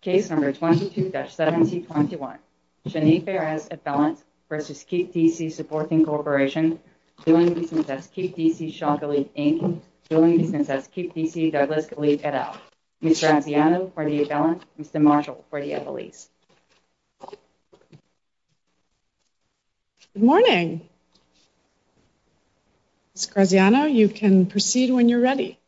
Case number 22-1721, Shanique Perez, a felon, versus Kipp DC Supporting Corporation, doing business as Kipp DC Shaw Gilead, Inc., doing business as Kipp DC Douglas Gilead, et al. Ms. Graziano, for the felon, Mr. Marshall, for the at-the-lease. Good morning. Ms. Graziano, you can proceed when you're ready.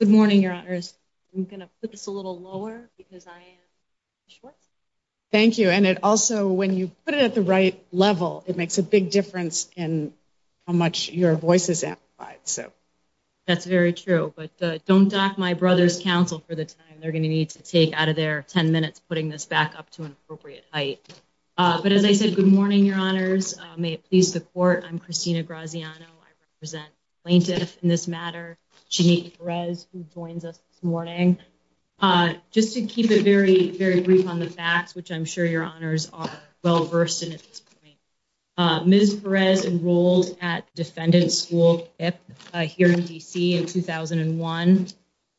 Good morning, Your Honors. I'm going to put this a little lower because I am short. Thank you. And it also, when you put it at the right level, it makes a big difference in how much your voice is amplified, so. That's very true, but don't dock my brother's counsel for the time they're going to need to take out of their 10 minutes putting this back up to an appropriate height. But as I said, good morning, Your Honors. May it please the Court, I'm Christina Graziano. I represent plaintiffs in this matter. Jeanette Perez, who joins us this morning. Just to keep it very, very brief on the facts, which I'm sure Your Honors are well-versed in at this point, Ms. Perez enrolled at defendant school Kipp here in DC in 2001.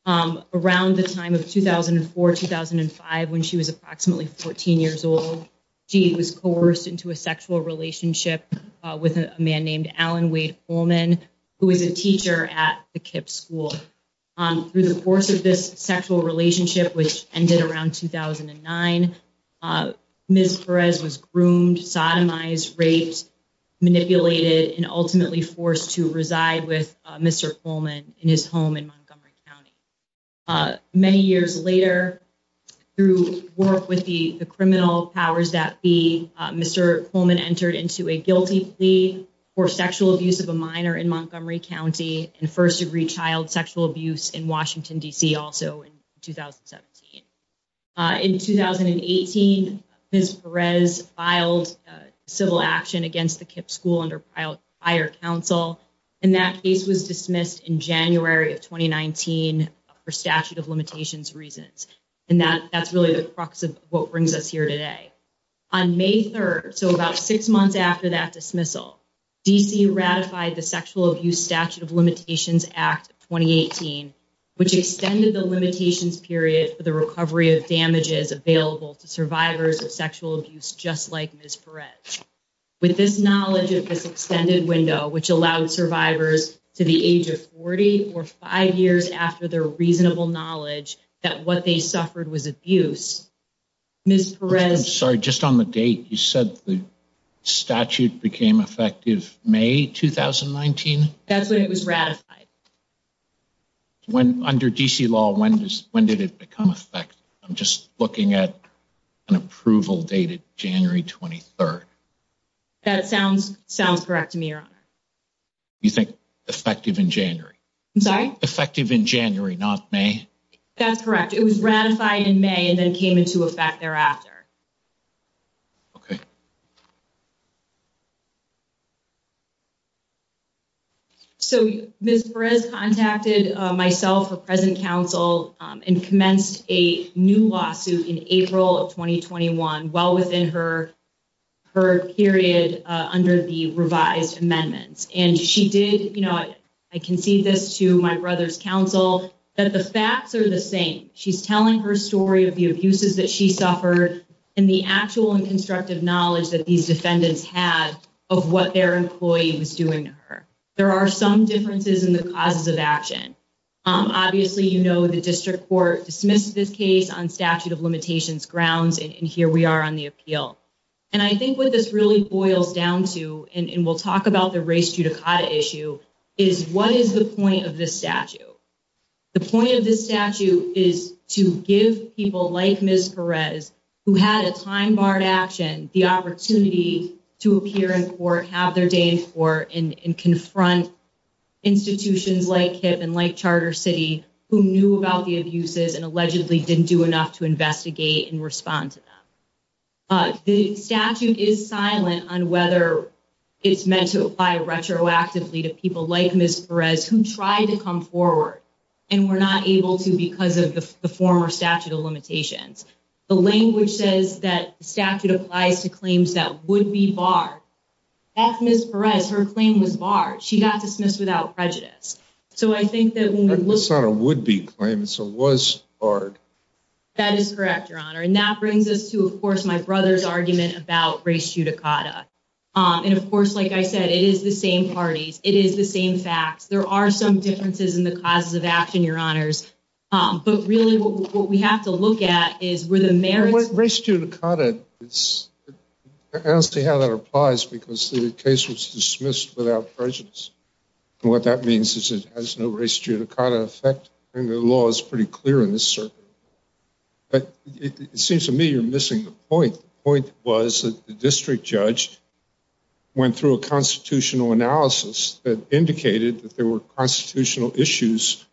Around the time of 2004, 2005, when she was approximately 14 years old, she was coerced into a sexual relationship with a man named Alan Wade Holman, who was a teacher at the Kipp School. Through the course of this sexual relationship, which ended around 2009, Ms. Perez was groomed, sodomized, raped, manipulated, and ultimately forced to reside with Mr. Holman in his home in Montgomery County. Many years later, through work with the criminal powers that be, Mr. Holman entered into a guilty plea for sexual abuse of a minor in Montgomery County and first-degree child sexual abuse in Washington, DC, also in 2017. In 2018, Ms. Perez filed civil action against the Kipp School under prior counsel, and that case was dismissed in January of 2019 for statute of limitations reasons. And that's really the crux of what brings us here today. On May 3rd, so about six months after that dismissal, DC ratified the Sexual Abuse Statute of Limitations Act of 2018, which extended the limitations period for the recovery of damages available to survivors of sexual abuse just like Ms. Perez. With this knowledge of this extended window, which allowed survivors to the age of 40 or five years after their reasonable knowledge that what they suffered was abuse, Ms. Perez... Sorry, just on the date, you said the statute became effective May 2019? That's when it was ratified. Under DC law, when did it become effective? I'm just looking at an approval date of January 23rd. That sounds correct to me, Your Honor. You think effective in January? I'm sorry? Effective in January, not May? That's correct. It was ratified in May and then came into effect thereafter. Okay. So Ms. Perez contacted myself, the present counsel, and commenced a new lawsuit in April of 2021, well within her period under the revised amendments. You know, I concede this to my brother's counsel, that the facts are the same. She's telling her story of the abuses that she suffered and the actual and constructive knowledge that these defendants had of what their employee was doing to her. There are some differences in the causes of action. Obviously, you know, the district court dismissed this case on statute of limitations grounds, and here we are on the appeal. And I think what this really boils down to, and we'll talk about the race judicata issue, is what is the point of this statute? The point of this statute is to give people like Ms. Perez, who had a time-barred action, the opportunity to appear in court, have their day in court, and confront institutions like HIP and like Charter City, who knew about the abuses and allegedly didn't do enough to The statute is silent on whether it's meant to apply retroactively to people like Ms. Perez, who tried to come forward and were not able to because of the former statute of limitations. The language says that the statute applies to claims that would be barred. That's Ms. Perez. Her claim was barred. She got dismissed without prejudice. So I think that when we look- It's not a would-be claim. It's a was barred. That is correct, Your Honor. And that brings us to, of course, my brother's argument about race judicata. And of course, like I said, it is the same parties. It is the same facts. There are some differences in the causes of action, Your Honors. But really, what we have to look at is where the merits- Race judicata, I don't see how that applies because the case was dismissed without prejudice. And what that means is it has no race judicata effect. I mean, the law is pretty clear in this circuit. But it seems to me you're missing the point. The point was that the district judge went through a constitutional analysis that indicated that there were constitutional issues,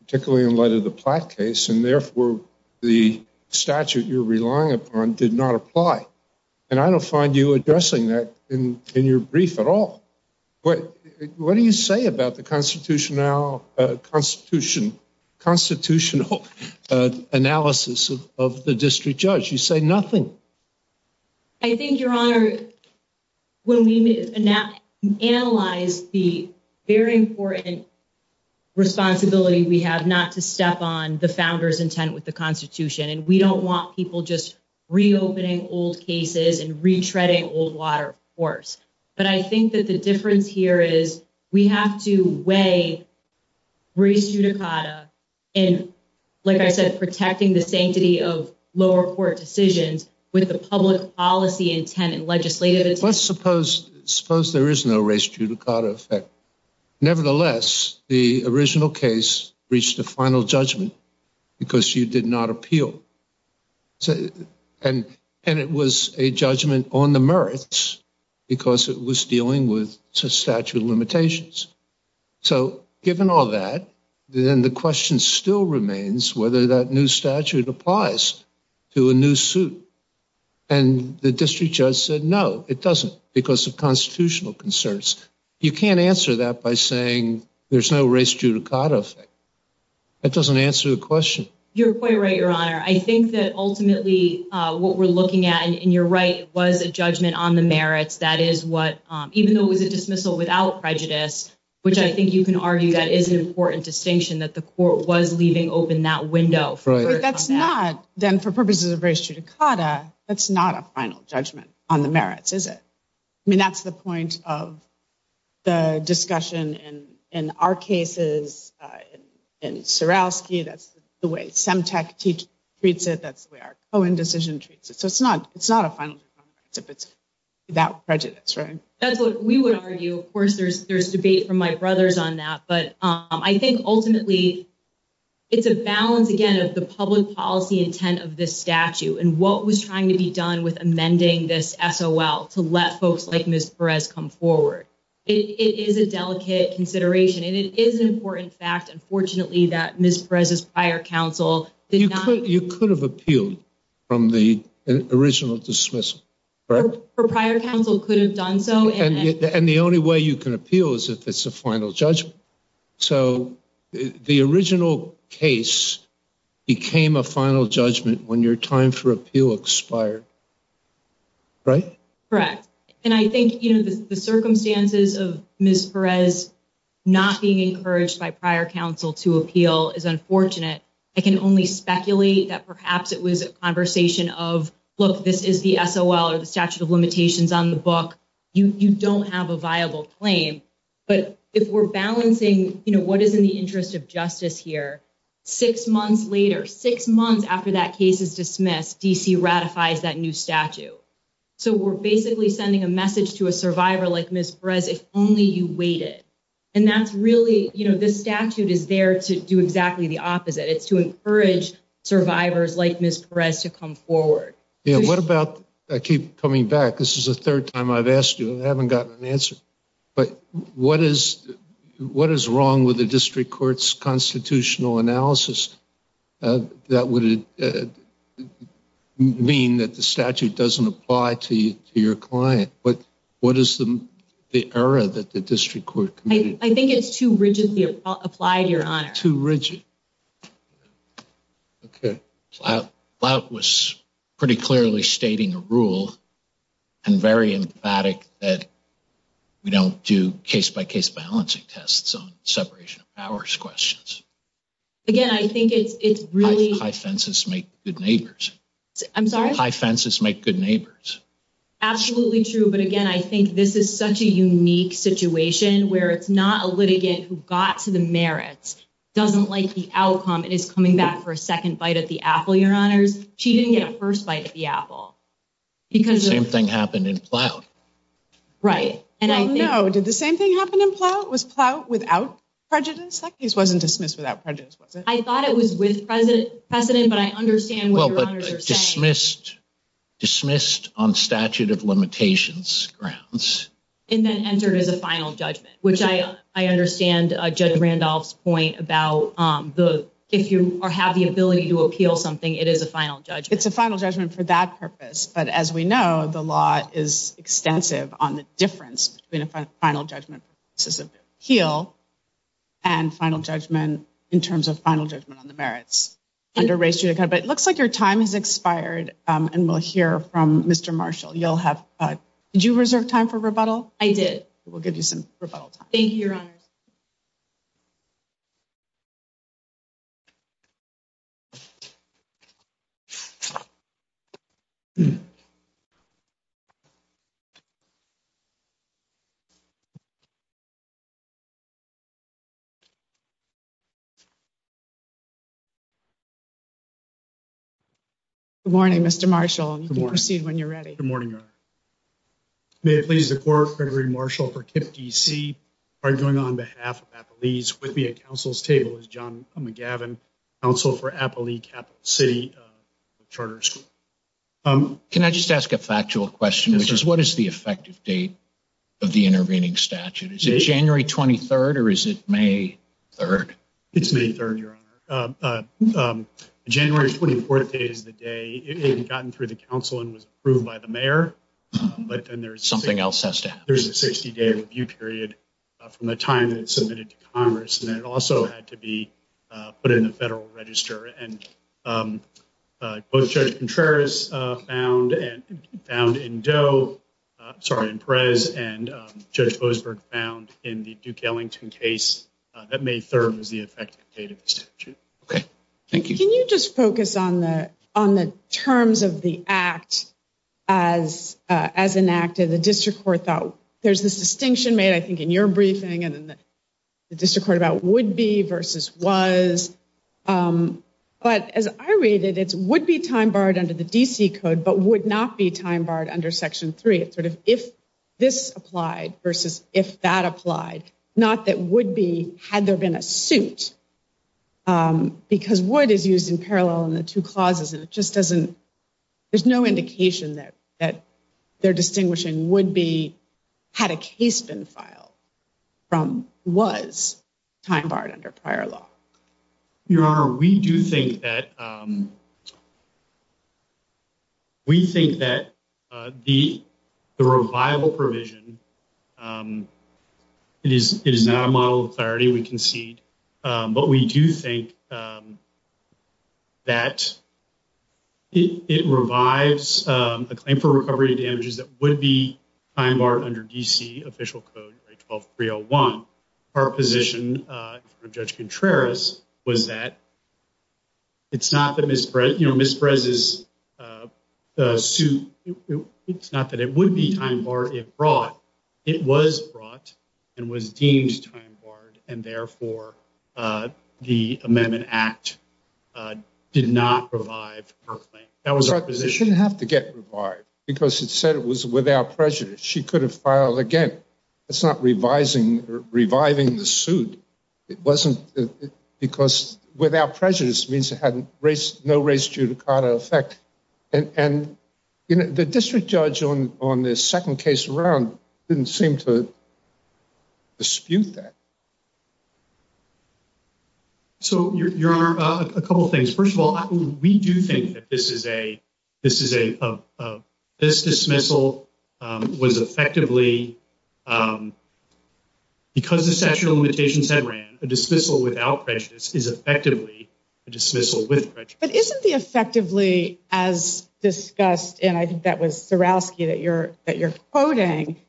particularly in light of the Platt case. And therefore, the statute you're relying upon did not apply. And I don't find you addressing that in your brief at all. What do you say about the constitutional analysis of the district judge? You say nothing. I think, Your Honor, when we analyze the very important responsibility we have not to step on the founder's intent with the Constitution. And we don't want people just reopening old cases and retreading old water, of course. But I think that the difference here is we have to weigh race judicata in, like I said, protecting the sanctity of lower court decisions with the public policy intent and legislative- Let's suppose there is no race judicata effect. Nevertheless, the original case reached a final judgment because you did not appeal. So and it was a judgment on the merits because it was dealing with statute limitations. So given all that, then the question still remains whether that new statute applies to a new suit. And the district judge said, no, it doesn't because of constitutional concerns. You can't answer that by saying there's no race judicata effect. That doesn't answer the question. You're quite right, Your Honor. I think that ultimately what we're looking at, and you're right, was a judgment on the merits. That is what, even though it was a dismissal without prejudice, which I think you can argue that is an important distinction that the court was leaving open that window. That's not, then for purposes of race judicata, that's not a final judgment on the merits, is it? I mean, that's the point of the discussion in our cases. In Surowski, that's the way Semtec treats it. That's the way our Cohen decision treats it. So it's not a final judgment if it's without prejudice, right? That's what we would argue. Of course, there's debate from my brothers on that. But I think ultimately it's a balance, again, of the public policy intent of this statute and what was trying to be done with amending this SOL to let folks like Ms. Perez come forward. It is a delicate consideration, and it is an important fact, unfortunately, that Ms. Perez's prior counsel did not- You could have appealed from the original dismissal, correct? Her prior counsel could have done so. And the only way you can appeal is if it's a final judgment. So the original case became a final judgment when your time for appeal expired, right? Correct. And I think the circumstances of Ms. Perez not being encouraged by prior counsel to appeal is unfortunate. I can only speculate that perhaps it was a conversation of, look, this is the SOL or the statute of limitations on the book. You don't have a viable claim. But if we're balancing what is in the interest of justice here, six months later, six months after that case is dismissed, DC ratifies that new statute. So we're basically sending a message to a survivor like Ms. Perez, if only you waited. And that's really, you know, this statute is there to do exactly the opposite. It's to encourage survivors like Ms. Perez to come forward. Yeah, what about, I keep coming back, this is the third time I've asked you. I haven't gotten an answer. But what is wrong with the district court's constitutional analysis that would mean that the statute doesn't apply to your client? But what is the error that the district court committed? I think it's too rigidly applied, Your Honor. Too rigid. Okay. Plout was pretty clearly stating a rule and very emphatic that we don't do case-by-case balancing tests on separation of powers questions. Again, I think it's really— High fences make good neighbors. I'm sorry? High fences make good neighbors. Absolutely true. But again, I think this is such a unique situation where it's not a litigant who got to the merits, doesn't like the outcome, and is coming back for a second bite at the apple, Your Honors. She didn't get a first bite at the apple because— Same thing happened in Plout. Right, and I think— No, did the same thing happen in Plout? Was Plout without prejudice? That case wasn't dismissed without prejudice, was it? I thought it was with precedent, but I understand what Your Honors are saying. Dismissed on statute of limitations grounds. And then entered as a final judgment, which I understand Judge Randolph's point about if you have the ability to appeal something, it is a final judgment. It's a final judgment for that purpose. But as we know, the law is extensive on the difference between a final judgment appeal and final judgment in terms of final judgment on the merits under race, but it looks like your time has expired, and we'll hear from Mr. Marshall. Did you reserve time for rebuttal? I did. We'll give you some rebuttal time. Thank you, Your Honors. Good morning, Mr. Marshall. Good morning. You can proceed when you're ready. Good morning, Your Honor. May it please the Court, Gregory Marshall for KIPP, D.C., arguing on behalf of Appalese. With me at counsel's table is John McGavin, counsel for Appalee Capital City Charter School. Can I just ask a factual question, which is what is the effective date of the intervening statute? Is it January 23rd, or is it May 3rd? It's May 3rd, Your Honor. The January 24th date is the day it had gotten through the counsel and was approved by the mayor, but then there's— Something else has to happen. There's a 60-day review period from the time that it's submitted to Congress, and then it also had to be put in the federal register. And both Judge Contreras found in Doe—I'm sorry, in Perez, and Judge Boasberg found in the Duke-Ellington case that May 3rd was the effective date of the statute. Thank you. Can you just focus on the terms of the act as enacted? The district court thought—there's this distinction made, I think, in your briefing, and then the district court about would be versus was. But as I read it, it's would be time barred under the D.C. code, but would not be time barred under Section 3. It's sort of if this applied versus if that applied, not that would be had there been a suit, because would is used in parallel in the two clauses, and it just doesn't—there's no indication that they're distinguishing would be had a case been filed from was time barred under prior law. Your Honor, we do think that—we think that the revival provision, it is not a model of But we do think that it revives a claim for recovery of damages that would be time barred under D.C. official code, 12301. Our position in front of Judge Contreras was that it's not that Ms. Perez's suit—it's not that it would be time barred if brought. It was brought and was deemed time barred, and therefore the amendment act did not revive her claim. That was our position. It shouldn't have to get revived, because it said it was without prejudice. She could have filed again. That's not revising or reviving the suit. It wasn't because without prejudice means it had no race judicata effect. And the district judge on the second case around didn't seem to dispute that. So, Your Honor, a couple things. First of all, we do think that this dismissal was effectively—because the statute of limitations had ran, a dismissal without prejudice is effectively a dismissal with prejudice. Isn't the effectively, as discussed, and I think that was Sorowski that you're quoting,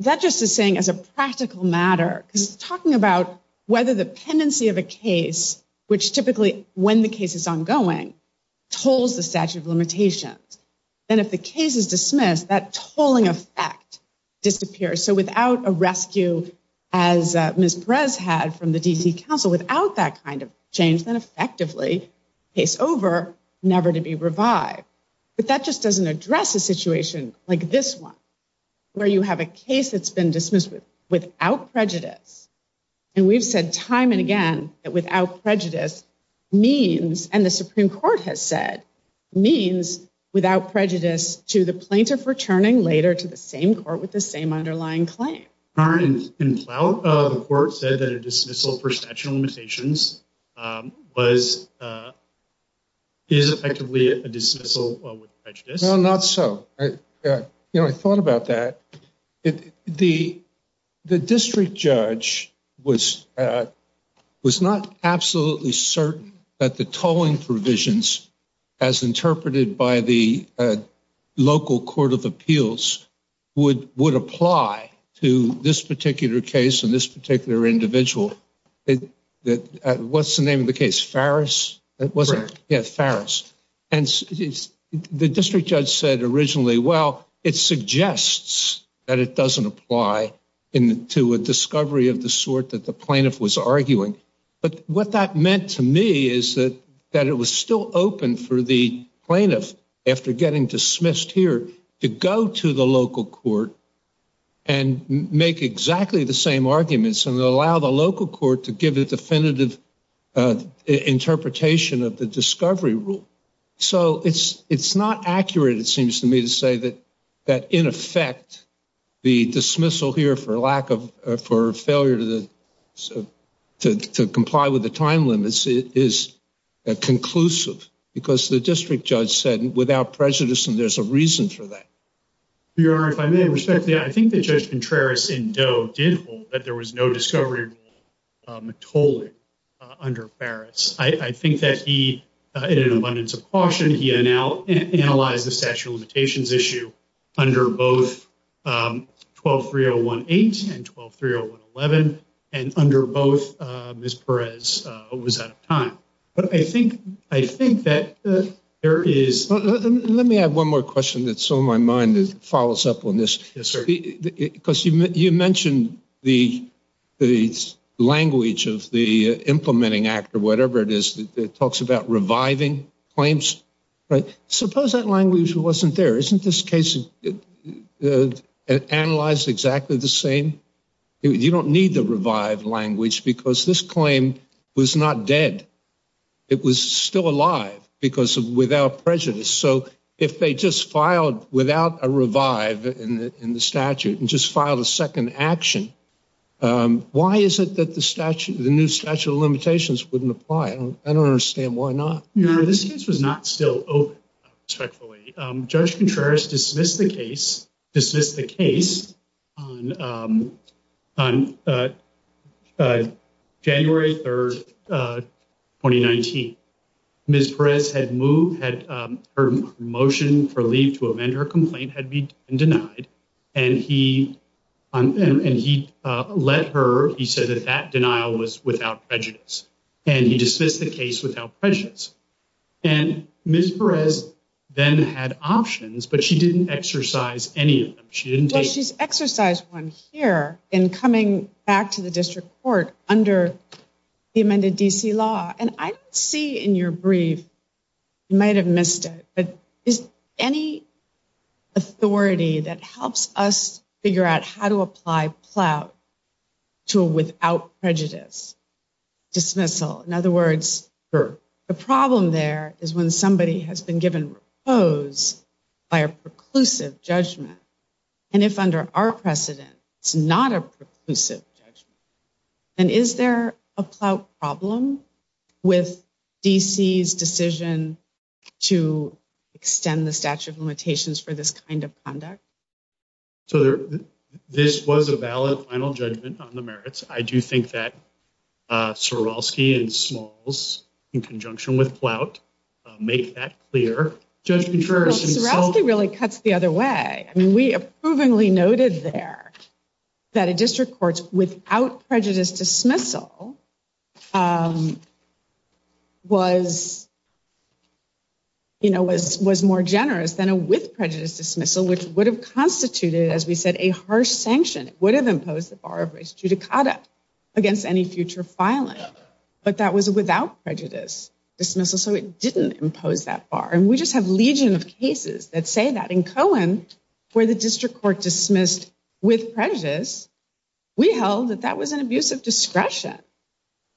that just is saying as a practical matter, because it's talking about whether the pendency of a case, which typically, when the case is ongoing, tolls the statute of limitations, then if the case is dismissed, that tolling effect disappears. So without a rescue, as Ms. Perez had from the D.C. Council, without that kind of change, then effectively case over, never to be revived. But that just doesn't address a situation like this one, where you have a case that's been dismissed without prejudice. And we've said time and again that without prejudice means—and the Supreme Court has said—means without prejudice to the plaintiff returning later to the same court with the same underlying claim. Aren't—the court said that a dismissal for statute of limitations was—is effectively a dismissal with prejudice? Well, not so. You know, I thought about that. The district judge was not absolutely certain that the tolling provisions, as interpreted by the local court of appeals, would apply to this particular case and this particular individual. What's the name of the case? Farris? It wasn't? Yeah, Farris. And the district judge said originally, well, it suggests that it doesn't apply to a discovery of the sort that the plaintiff was arguing. But what that meant to me is that it was still open for the plaintiff, after getting dismissed here, to go to the local court and make exactly the same arguments and allow the local court to give a definitive interpretation of the discovery rule. So it's not accurate, it seems to me, to say that, in effect, the dismissal here for failure to comply with the time limits is conclusive. Because the district judge said, without prejudice, and there's a reason for that. Your Honor, if I may respectfully, I think that Judge Contreras in Doe did hold that there was no discovery rule tolling under Farris. I think that he, in an abundance of caution, he analyzed the statute of limitations issue under both 12-3018 and 12-3011. And under both, Ms. Perez was out of time. But I think that there is... Let me add one more question that's on my mind that follows up on this. Yes, sir. Because you mentioned the language of the implementing act, or whatever it is, that talks about reviving claims. Suppose that language wasn't there. Isn't this case analyzed exactly the same? You don't need the revive language because this claim was not dead. It was still alive because of without prejudice. So if they just filed without a revive in the statute and just filed a second action, why is it that the new statute of limitations wouldn't apply? I don't understand why not. Your Honor, this case was not still open, respectfully. Judge Contreras dismissed the case on January 3rd, 2019. Ms. Perez had moved her motion for leave to amend her complaint had been denied. And he let her... He said that that denial was without prejudice. And he dismissed the case without prejudice. And Ms. Perez then had options, but she didn't exercise any of them. She didn't take... She's exercised one here in coming back to the district court under the amended DC law. And I see in your brief, you might have missed it, but is any authority that helps us figure out how to apply plout to a without prejudice dismissal? In other words, the problem there is when somebody has been given a repose by a preclusive judgment. And if under our precedent, it's not a preclusive judgment. And is there a plout problem with DC's decision to extend the statute of limitations for this kind of conduct? So this was a valid final judgment on the merits. I do think that Sorosky and Smalls, in conjunction with plout, make that clear. Judge Contreras... Sorosky really cuts the other way. I mean, we approvingly noted there that a district court without prejudice dismissal was more generous than a with prejudice dismissal, which would have constituted, as we said, a harsh sanction. It would have imposed the bar of race judicata against any future filing. But that was a without prejudice dismissal. So it didn't impose that bar. And we just have legion of cases that say that. In Cohen, where the district court dismissed with prejudice, we held that that was an abuse of discretion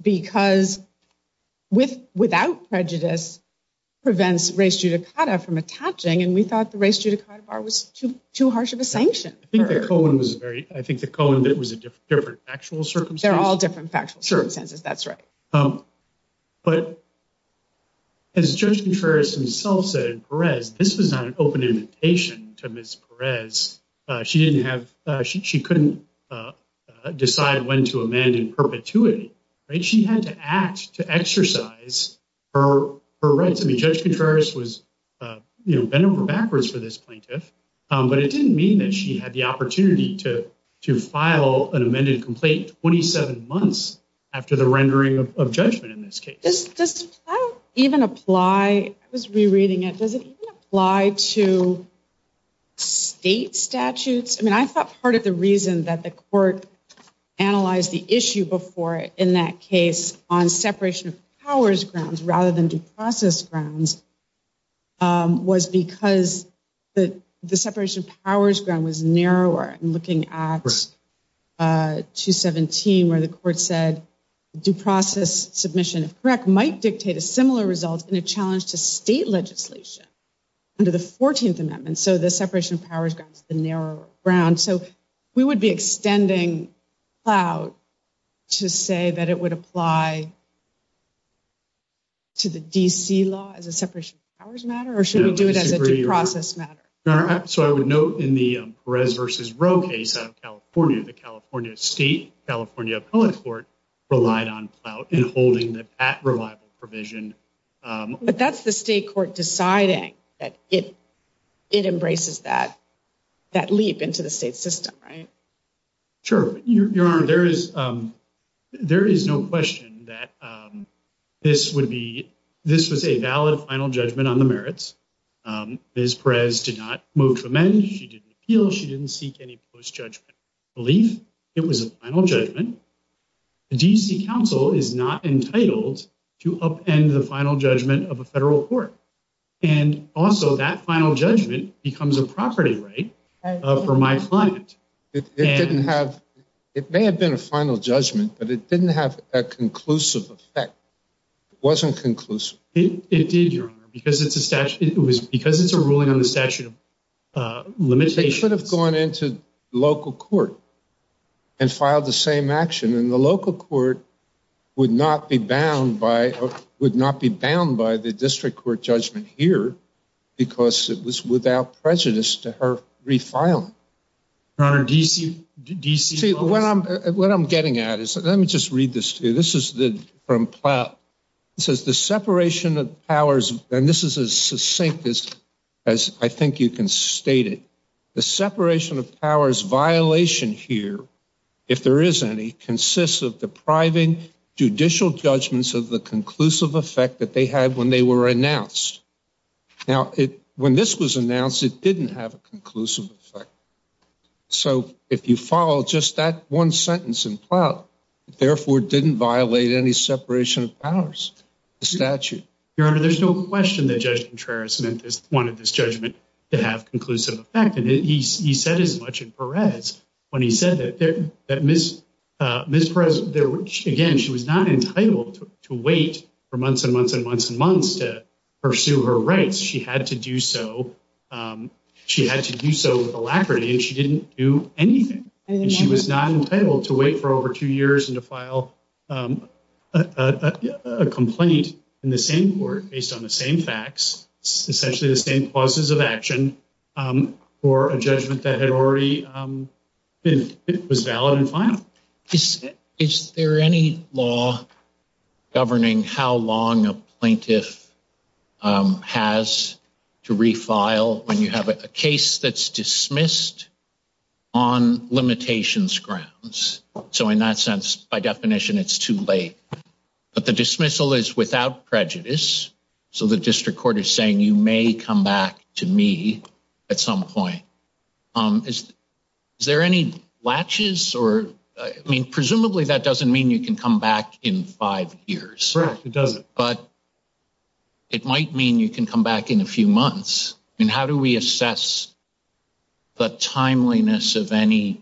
because without prejudice prevents race judicata from attaching. And we thought the race judicata bar was too harsh of a sanction. I think that Cohen was a very... I think that Cohen was a different factual circumstance. They're all different factual circumstances. That's right. But as Judge Contreras himself said in Perez, this was not an open invitation to Ms. Perez. She didn't have... She couldn't decide when to amend in perpetuity, right? She had to act to exercise her rights. Judge Contreras was bent over backwards for this plaintiff, but it didn't mean that she had the opportunity to file an amended complaint 27 months after the rendering of judgment in this case. Does that even apply... I was rereading it. Does it even apply to state statutes? I thought part of the reason that the court analyzed the issue before in that case on separation of powers grounds rather than due process grounds was because the separation of powers ground was narrower. I'm looking at 217 where the court said due process submission, if correct, might dictate a similar result in a challenge to state legislation under the 14th Amendment. So the separation of powers grounds is the narrower ground. We would be extending Plout to say that it would apply to the D.C. law as a separation of powers matter, or should we do it as a due process matter? So I would note in the Perez v. Roe case out of California, the California State, California Appellate Court relied on Plout in holding that revival provision. But that's the state court deciding that it embraces that leap into the state system, right? Sure, Your Honor. There is no question that this was a valid final judgment on the merits. Ms. Perez did not move to amend. She didn't appeal. She didn't seek any post-judgment relief. It was a final judgment. The D.C. Council is not entitled to upend the final judgment of a federal court. And also that final judgment becomes a property right. For my client. It may have been a final judgment, but it didn't have a conclusive effect. It wasn't conclusive. It did, Your Honor, because it's a ruling on the statute of limitations. They could have gone into local court and filed the same action. And the local court would not be bound by the district court judgment here because it was without prejudice to her refiling. Your Honor, D.C. What I'm getting at is, let me just read this to you. This is the from Plout. It says the separation of powers. And this is as succinct as I think you can state it. The separation of powers violation here, if there is any, consists of depriving judicial judgments of the conclusive effect that they had when they were announced. Now, when this was announced, it didn't have a conclusive effect. So if you follow just that one sentence in Plout, it therefore didn't violate any separation of powers statute. Your Honor, there's no question that Judge Contreras wanted this judgment to have conclusive effect. And he said as much in Perez when he said that Ms. Perez, again, she was not entitled to wait for months and months and months and months to pursue her rights. She had to do so. She had to do so with alacrity. And she didn't do anything. She was not entitled to wait for over two years and to file a complaint in the same court based on the same facts, essentially the same clauses of action for a judgment that had already been valid and final. Is there any law governing how long a plaintiff has to refile when you have a case that's dismissed on limitations grounds? So in that sense, by definition, it's too late. But the dismissal is without prejudice. So the district court is saying you may come back to me at some point. Is there any latches or I mean, presumably that doesn't mean you can come back in five years. Correct. It doesn't. But it might mean you can come back in a few months. And how do we assess the timeliness of any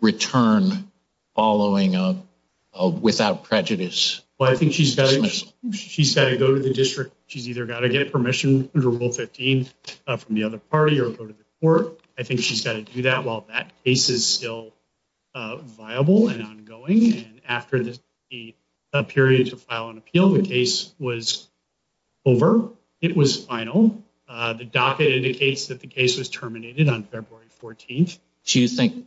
return following without prejudice? Well, I think she's got to go to the district. She's either got to get permission under Rule 15 from the other party or go to the court. I think she's got to do that while that case is still viable and ongoing. And after the period to file an appeal, the case was over. It was final. The docket indicates that the case was terminated on February 14th. Do you think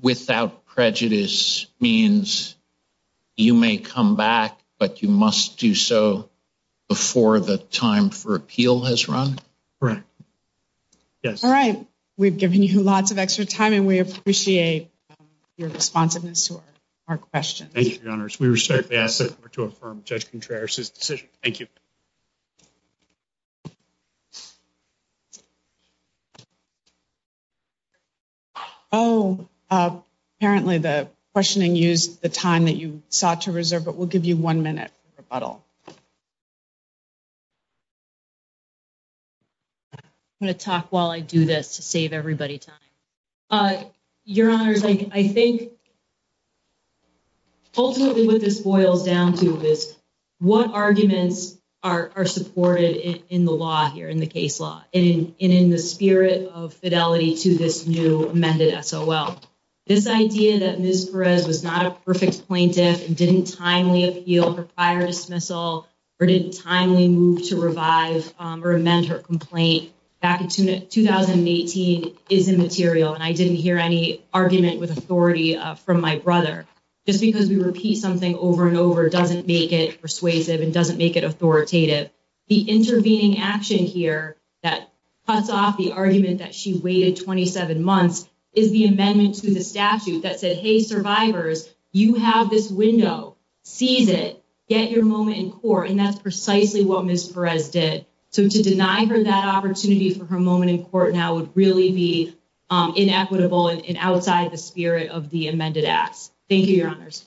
without prejudice means you may come back, but you must do so before the time for appeal has run? Correct. Yes. All right. We've given you lots of extra time and we appreciate your responsiveness to our questions. Thank you, Your Honors. We respectfully ask the court to affirm Judge Contreras' decision. Thank you. Oh, apparently the questioning used the time that you sought to reserve, but we'll give you one minute for rebuttal. I'm going to talk while I do this to save everybody time. Your Honors, I think ultimately what this boils down to is what arguments are supported in the law here, in the case law, and in the spirit of fidelity to this new amended SOL. This idea that Ms. Perez was not a perfect plaintiff and didn't timely appeal her prior dismissal or didn't timely move to revive or amend her complaint back in 2018 is immaterial. And I didn't hear any argument with authority from my brother. Just because we repeat something over and over doesn't make it persuasive and doesn't make it authoritative. The intervening action here that cuts off the argument that she waited 27 months is the amendment to the statute that said, hey, survivors, you have this window, seize it, get your moment in court. And that's precisely what Ms. Perez did. So to deny her that opportunity for her moment in court now would really be inequitable and outside the spirit of the amended acts. Thank you, Your Honors.